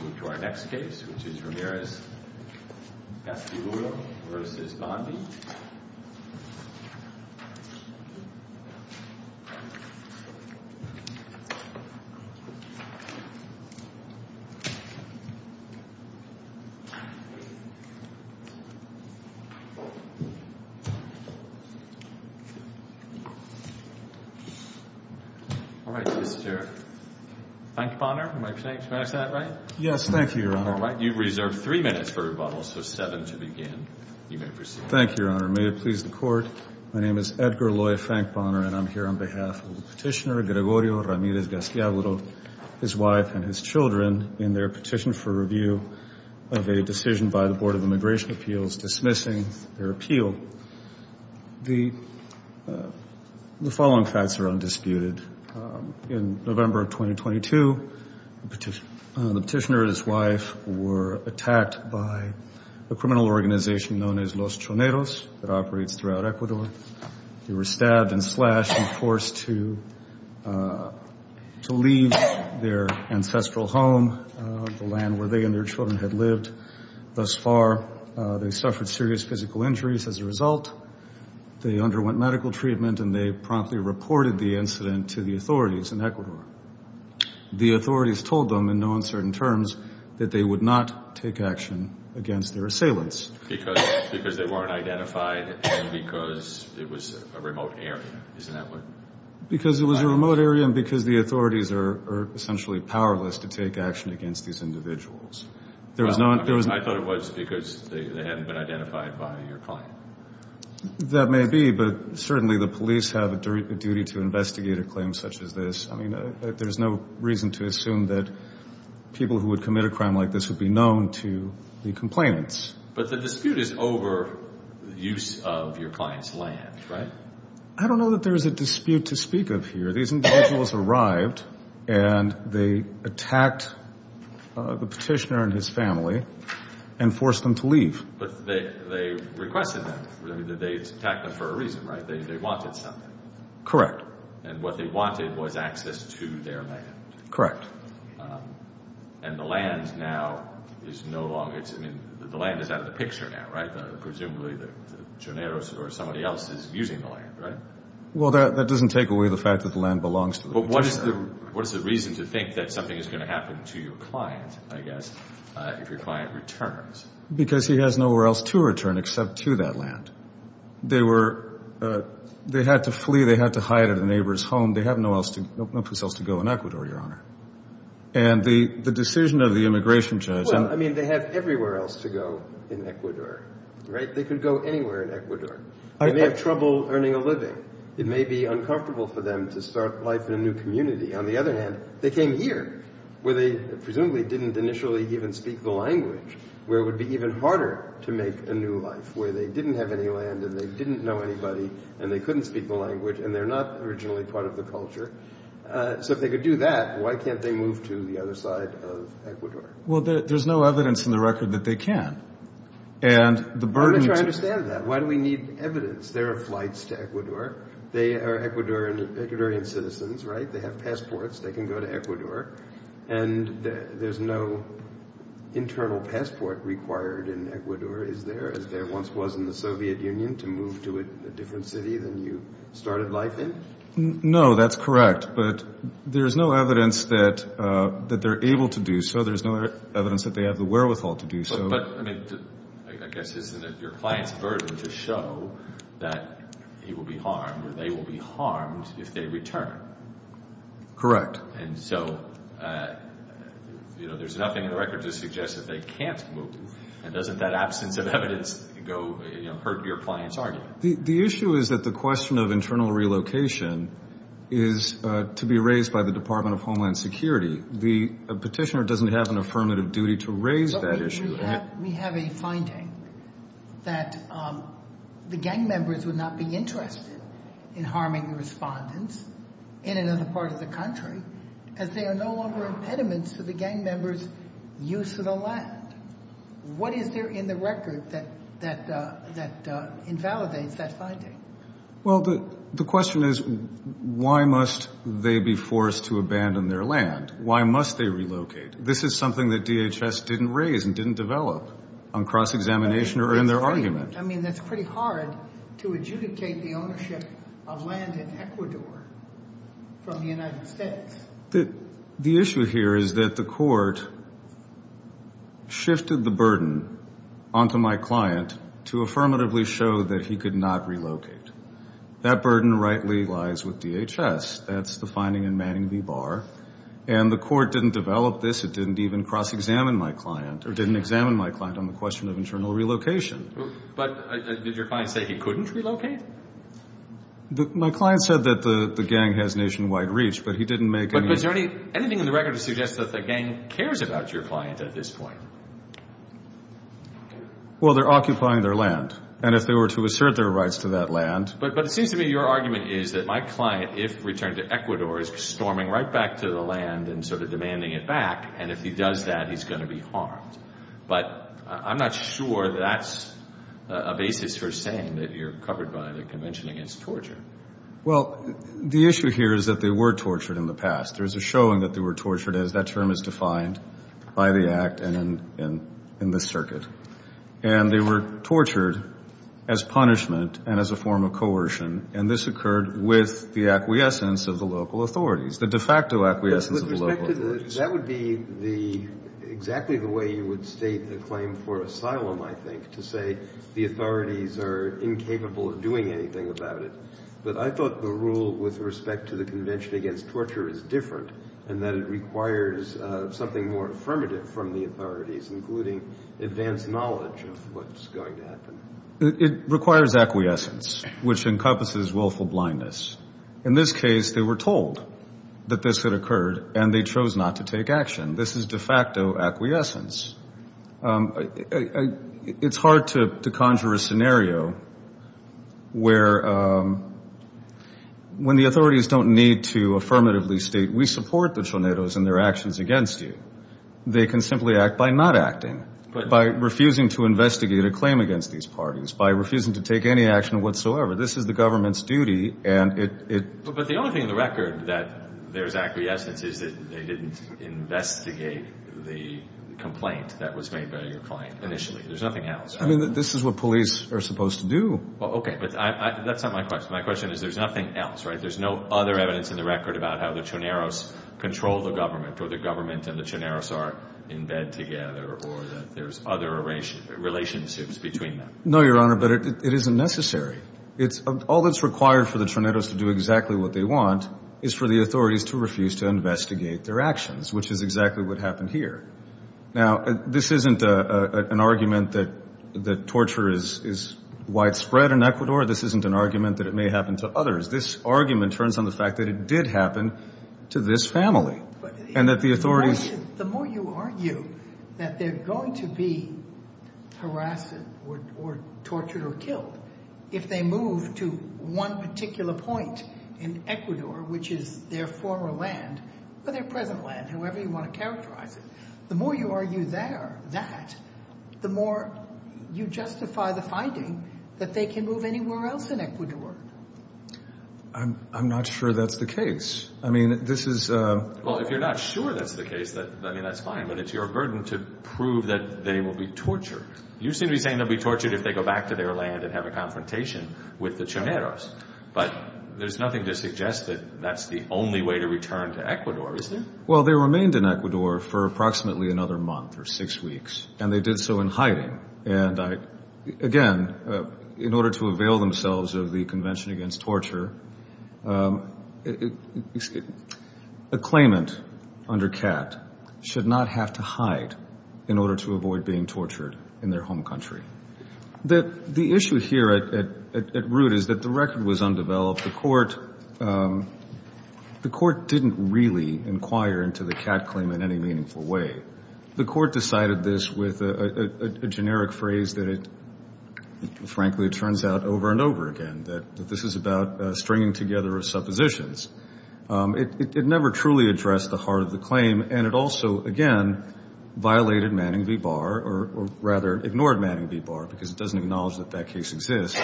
We move to our next case, which is Ramirez-Gastiaburo v. Bondi. All right, Mr. Bankebonner, am I pronouncing that right? Yes, thank you, Your Honor. All right, you've reserved three minutes for rebuttal, so seven to begin. You may proceed. Thank you, Your Honor. May it please the Court, my name is Edgar Loy Fankbonner, and I'm here on behalf of Petitioner Gregorio Ramirez-Gastiaburo, his wife, and his children in their petition for review of a decision by the Board of Immigration Appeals dismissing their appeal. The following facts are undisputed. In November of 2022, the petitioner and his wife were attacked by a criminal organization known as Los Choneros that operates throughout Ecuador. They were stabbed and slashed and forced to leave their ancestral home, the land where they and their children had lived. Thus far, they've suffered serious physical injuries as a result. They underwent medical treatment, and they promptly reported the incident to the authorities in Ecuador. The authorities told them in no uncertain terms that they would not take action against their assailants. Because they weren't identified and because it was a remote area, isn't that what? Because it was a remote area and because the authorities are essentially powerless to take action against these individuals. I thought it was because they hadn't been identified by your client. That may be, but certainly the police have a duty to investigate a claim such as this. I mean, there's no reason to assume that people who would commit a crime like this would be known to the complainants. But the dispute is over the use of your client's land, right? I don't know that there's a dispute to speak of here. These individuals arrived, and they attacked the petitioner and his family and forced them to leave. But they requested them. They attacked them for a reason, right? They wanted something. Correct. And what they wanted was access to their land. Correct. And the land now is no longer, I mean, the land is out of the picture now, right? Presumably the Gineros or somebody else is using the land, right? Well, that doesn't take away the fact that the land belongs to the petitioner. But what is the reason to think that something is going to happen to your client, I guess, if your client returns? Because he has nowhere else to return except to that land. They had to flee. They had to hide at a neighbor's home. They have no place else to go in Ecuador, Your Honor. And the decision of the immigration judge. Well, I mean, they have everywhere else to go in Ecuador, right? They could go anywhere in Ecuador. They may have trouble earning a living. It may be uncomfortable for them to start life in a new community. On the other hand, they came here, where they presumably didn't initially even speak the language, where it would be even harder to make a new life, where they didn't have any land and they didn't know anybody and they couldn't speak the language and they're not originally part of the culture. So if they could do that, why can't they move to the other side of Ecuador? Well, there's no evidence in the record that they can. Let me try to understand that. Why do we need evidence? There are flights to Ecuador. They are Ecuadorian citizens, right? They have passports. They can go to Ecuador. And there's no internal passport required in Ecuador, as there once was in the Soviet Union, to move to a different city than you started life in? No, that's correct. But there's no evidence that they're able to do so. There's no evidence that they have the wherewithal to do so. But, I mean, I guess isn't it your client's burden to show that he will be harmed or they will be harmed if they return? Correct. And so, you know, there's nothing in the record to suggest that they can't move. And doesn't that absence of evidence hurt your client's argument? The issue is that the question of internal relocation is to be raised by the Department of Homeland Security. The petitioner doesn't have an affirmative duty to raise that issue. We have a finding that the gang members would not be interested in harming respondents in another part of the country as they are no longer impediments to the gang members' use of the land. What is there in the record that invalidates that finding? Well, the question is why must they be forced to abandon their land? Why must they relocate? This is something that DHS didn't raise and didn't develop on cross-examination or in their argument. I mean, that's pretty hard to adjudicate the ownership of land in Ecuador from the United States. The issue here is that the court shifted the burden onto my client to affirmatively show that he could not relocate. That burden rightly lies with DHS. That's the finding in Manning v. Barr. And the court didn't develop this. It didn't even cross-examine my client or didn't examine my client on the question of internal relocation. But did your client say he couldn't relocate? My client said that the gang has nationwide reach, but he didn't make any— But is there anything in the record that suggests that the gang cares about your client at this point? Well, they're occupying their land. And if they were to assert their rights to that land— But it seems to me your argument is that my client, if returned to Ecuador, is storming right back to the land and sort of demanding it back, and if he does that, he's going to be harmed. But I'm not sure that that's a basis for saying that you're covered by the Convention Against Torture. Well, the issue here is that they were tortured in the past. There's a showing that they were tortured, as that term is defined by the Act and in this circuit. And they were tortured as punishment and as a form of coercion, and this occurred with the acquiescence of the local authorities, the de facto acquiescence of the local authorities. That would be exactly the way you would state the claim for asylum, I think, to say the authorities are incapable of doing anything about it. But I thought the rule with respect to the Convention Against Torture is different and that it requires something more affirmative from the authorities, including advanced knowledge of what's going to happen. It requires acquiescence, which encompasses willful blindness. In this case, they were told that this had occurred, and they chose not to take action. This is de facto acquiescence. It's hard to conjure a scenario where when the authorities don't need to affirmatively state, we support the Tornados and their actions against you. They can simply act by not acting, by refusing to investigate a claim against these parties, by refusing to take any action whatsoever. This is the government's duty, and it— But the only thing in the record that there's acquiescence is that they didn't investigate the complaint that was made by your client initially. There's nothing else, right? I mean, this is what police are supposed to do. Well, okay, but that's not my question. My question is there's nothing else, right? There's no other evidence in the record about how the Tornados control the government or the government and the Tornados are in bed together or that there's other relationships between them. No, Your Honor, but it isn't necessary. All that's required for the Tornados to do exactly what they want is for the authorities to refuse to investigate their actions, which is exactly what happened here. Now, this isn't an argument that torture is widespread in Ecuador. This isn't an argument that it may happen to others. This argument turns on the fact that it did happen to this family and that the authorities— The more you argue that they're going to be harassed or tortured or killed if they move to one particular point in Ecuador, which is their former land or their present land, however you want to characterize it, the more you argue that, the more you justify the finding that they can move anywhere else in Ecuador. I'm not sure that's the case. I mean, this is— Well, if you're not sure that's the case, I mean, that's fine, but it's your burden to prove that they will be tortured. You seem to be saying they'll be tortured if they go back to their land and have a confrontation with the Chimeros, but there's nothing to suggest that that's the only way to return to Ecuador, is there? Well, they remained in Ecuador for approximately another month or six weeks, and they did so in hiding. And, again, in order to avail themselves of the Convention Against Torture, a claimant under CAT should not have to hide in order to avoid being tortured in their home country. The issue here at root is that the record was undeveloped. The court didn't really inquire into the CAT claim in any meaningful way. The court decided this with a generic phrase that, frankly, it turns out over and over again, that this is about stringing together of suppositions. It never truly addressed the heart of the claim, and it also, again, violated Manning v. Barr, or rather ignored Manning v. Barr because it doesn't acknowledge that that case exists,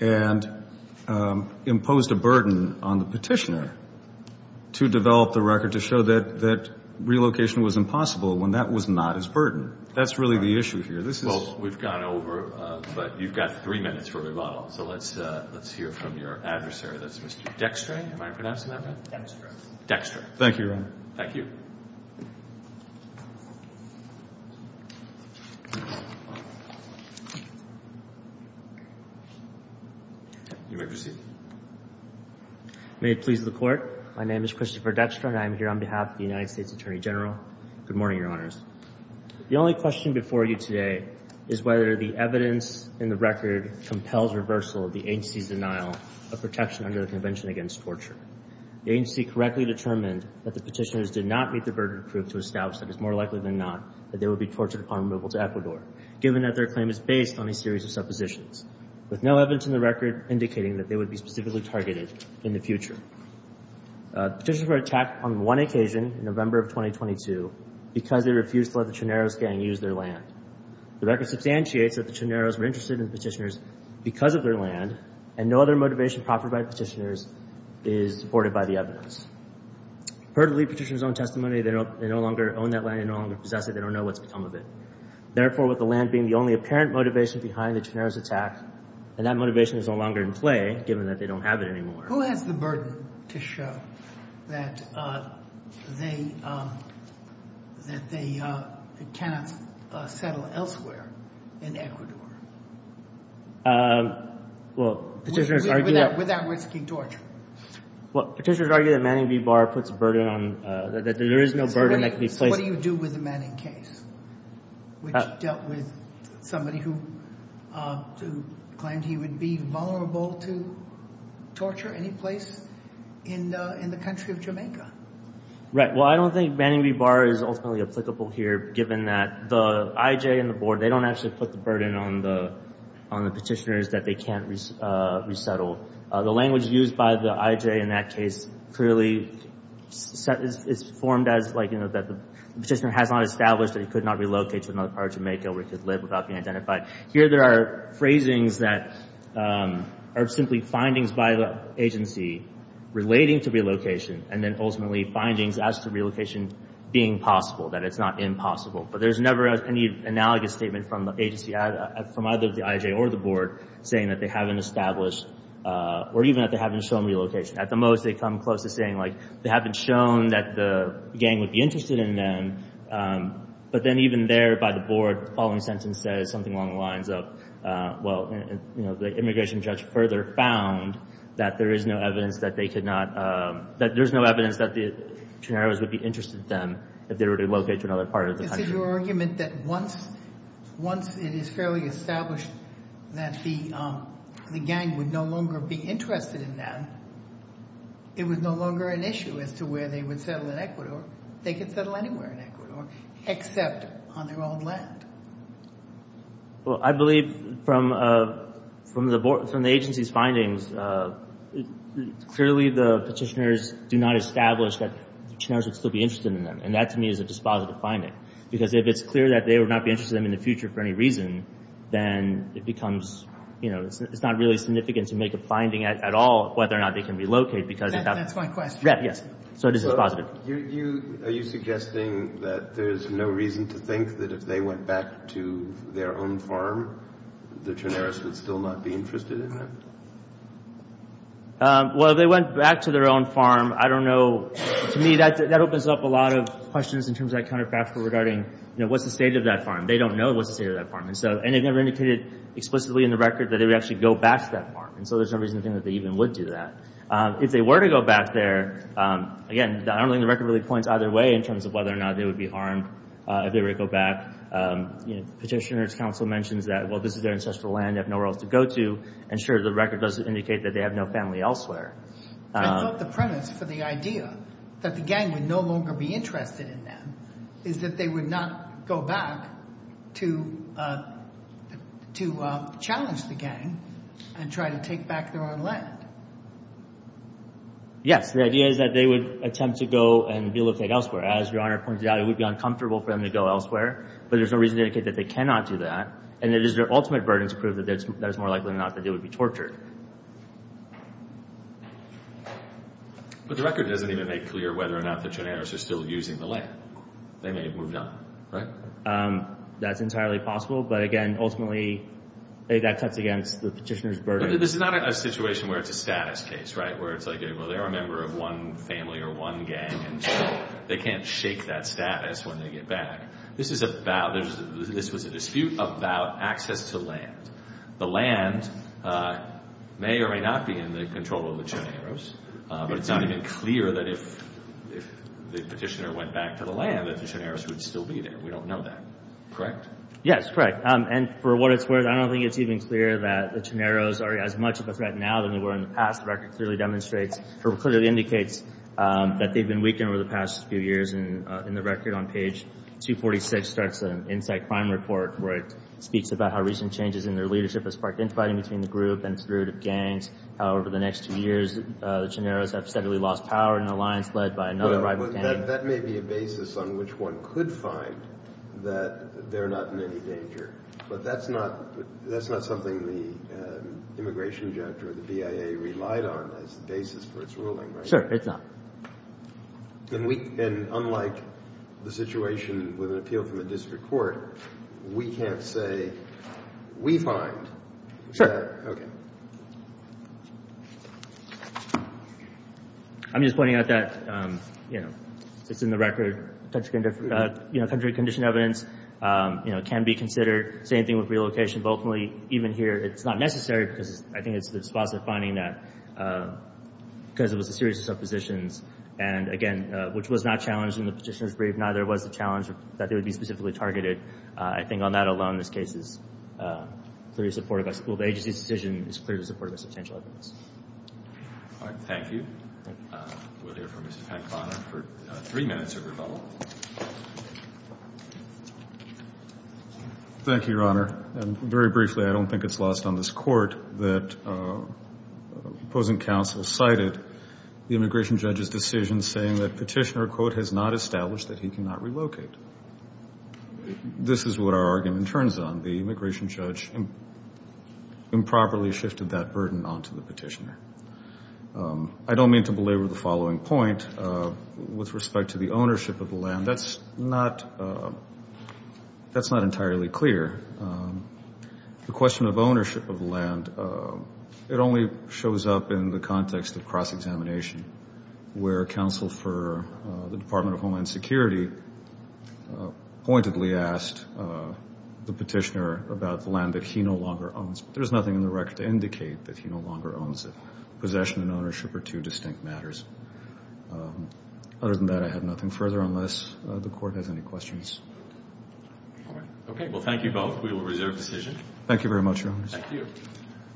and imposed a burden on the petitioner to develop the record to show that relocation was impossible when that was not his burden. That's really the issue here. Well, we've gone over, but you've got three minutes for rebuttal, so let's hear from your adversary. That's Mr. Dextre. Am I pronouncing that right? Dextre. Dextre. Thank you, Your Honor. Thank you. You may proceed. May it please the Court. My name is Christopher Dextre, and I am here on behalf of the United States Attorney General. Good morning, Your Honors. The only question before you today is whether the evidence in the record compels reversal of the agency's denial of protection under the Convention Against Torture. The agency correctly determined that the petitioners did not meet the burden of proof to establish that it's more likely than not that they would be tortured upon removal to Ecuador, given that their claim is based on a series of suppositions, with no evidence in the record indicating that they would be specifically targeted in the future. Petitioners were attacked on one occasion in November of 2022 because they refused to let the Chineros gang use their land. The record substantiates that the Chineros were interested in the petitioners because of their land, and no other motivation proffered by petitioners is supported by the evidence. Per the lead petitioner's own testimony, they no longer own that land. They no longer possess it. They don't know what's become of it. Therefore, with the land being the only apparent motivation behind the Chineros attack, and that motivation is no longer in play, given that they don't have it anymore. Who has the burden to show that they cannot settle elsewhere in Ecuador? Well, petitioners argue that. Without risking torture. Well, petitioners argue that Manning v. Barr puts a burden on, that there is no burden that can be placed. So what do you do with the Manning case, which dealt with somebody who claimed he would be vulnerable to torture anyplace in the country of Jamaica? Right. Well, I don't think Manning v. Barr is ultimately applicable here, given that the IJ and the board, they don't actually put the burden on the petitioners that they can't resettle. The language used by the IJ in that case clearly is formed as, like, you know, that the petitioner has not established that he could not relocate to another part of Jamaica where he could live without being identified. Here there are phrasings that are simply findings by the agency relating to relocation, and then ultimately findings as to relocation being possible, that it's not impossible. But there's never any analogous statement from the agency, from either the IJ or the board, saying that they haven't established, or even that they haven't shown relocation. At the most, they come close to saying, like, they haven't shown that the gang would be interested in them. But then even there, by the board, the following sentence says something along the lines of, well, you know, the immigration judge further found that there is no evidence that they could not, that there's no evidence that the Chineros would be interested in them if they were to relocate to another part of the country. It's in your argument that once it is fairly established that the gang would no longer be interested in them, it was no longer an issue as to where they would settle in Ecuador. They could settle anywhere in Ecuador, except on their own land. Well, I believe from the agency's findings, clearly the petitioners do not establish that the Chineros would still be interested in them. And that, to me, is a dispositive finding. Because if it's clear that they would not be interested in them in the future for any reason, then it becomes, you know, it's not really significant to make a finding at all whether or not they can relocate. That's my question. Yes. So it is dispositive. Are you suggesting that there's no reason to think that if they went back to their own farm, the Chineros would still not be interested in them? Well, if they went back to their own farm, I don't know. To me, that opens up a lot of questions in terms of that counterfactual regarding, you know, what's the state of that farm. They don't know what's the state of that farm. And they've never indicated explicitly in the record that they would actually go back to that farm. And so there's no reason to think that they even would do that. If they were to go back there, again, I don't think the record really points either way in terms of whether or not they would be harmed if they were to go back. Petitioner's counsel mentions that, well, this is their ancestral land. They have nowhere else to go to. And, sure, the record does indicate that they have no family elsewhere. I love the premise for the idea that the gang would no longer be interested in them is that they would not go back to challenge the gang and try to take back their own land. Yes. The idea is that they would attempt to go and be looked at elsewhere. As Your Honor pointed out, it would be uncomfortable for them to go elsewhere. But there's no reason to indicate that they cannot do that. And it is their ultimate burden to prove that it's more likely or not that they would be tortured. But the record doesn't even make clear whether or not the Trenators are still using the land. They may have moved on, right? That's entirely possible. But, again, ultimately, that cuts against the petitioner's burden. But this is not a situation where it's a status case, right? Where it's like, well, they're a member of one family or one gang, and so they can't shake that status when they get back. This was a dispute about access to land. The land may or may not be in the control of the Trenators. But it's not even clear that if the petitioner went back to the land that the Trenators would still be there. We don't know that. Correct? Yes, correct. And for what it's worth, I don't think it's even clear that the Trenators are as much of a threat now than they were in the past. The record clearly demonstrates or clearly indicates that they've been weakened over the past few years. In the record on page 246 starts an Insight Crime Report, where it speaks about how recent changes in their leadership has sparked infighting between the group and spirited gangs. However, the next two years, the Trenators have steadily lost power in an alliance led by another rival gang. But that may be a basis on which one could find that they're not in any danger. But that's not something the immigration judge or the BIA relied on as the basis for its ruling, right? Sure, it's not. And unlike the situation with an appeal from the district court, we can't say we find. Okay. I'm just pointing out that, you know, it's in the record. You know, country condition evidence, you know, can be considered. Same thing with relocation. Locally, even here, it's not necessary because I think it's the response to finding that because it was a series of suppositions. And, again, which was not challenged in the petitioner's brief. Neither was the challenge that they would be specifically targeted. I think on that alone, this case is clearly supported by school. The agency's decision is clearly supported by substantial evidence. All right. Thank you. We'll hear from Mr. Pat Conner for three minutes of rebuttal. Thank you, Your Honor. Very briefly, I don't think it's lost on this court that opposing counsel cited the immigration judge's decision saying that petitioner, quote, has not established that he cannot relocate. This is what our argument turns on. The immigration judge improperly shifted that burden onto the petitioner. I don't mean to belabor the following point with respect to the ownership of the land. That's not entirely clear. The question of ownership of the land, it only shows up in the context of cross-examination, where counsel for the Department of Homeland Security pointedly asked the petitioner about the land that he no longer owns. There's nothing in the record to indicate that he no longer owns it. Possession and ownership are two distinct matters. Other than that, I have nothing further unless the court has any questions. All right. Okay. Well, thank you both. We will reserve the decision. Thank you very much, Your Honor. Thank you.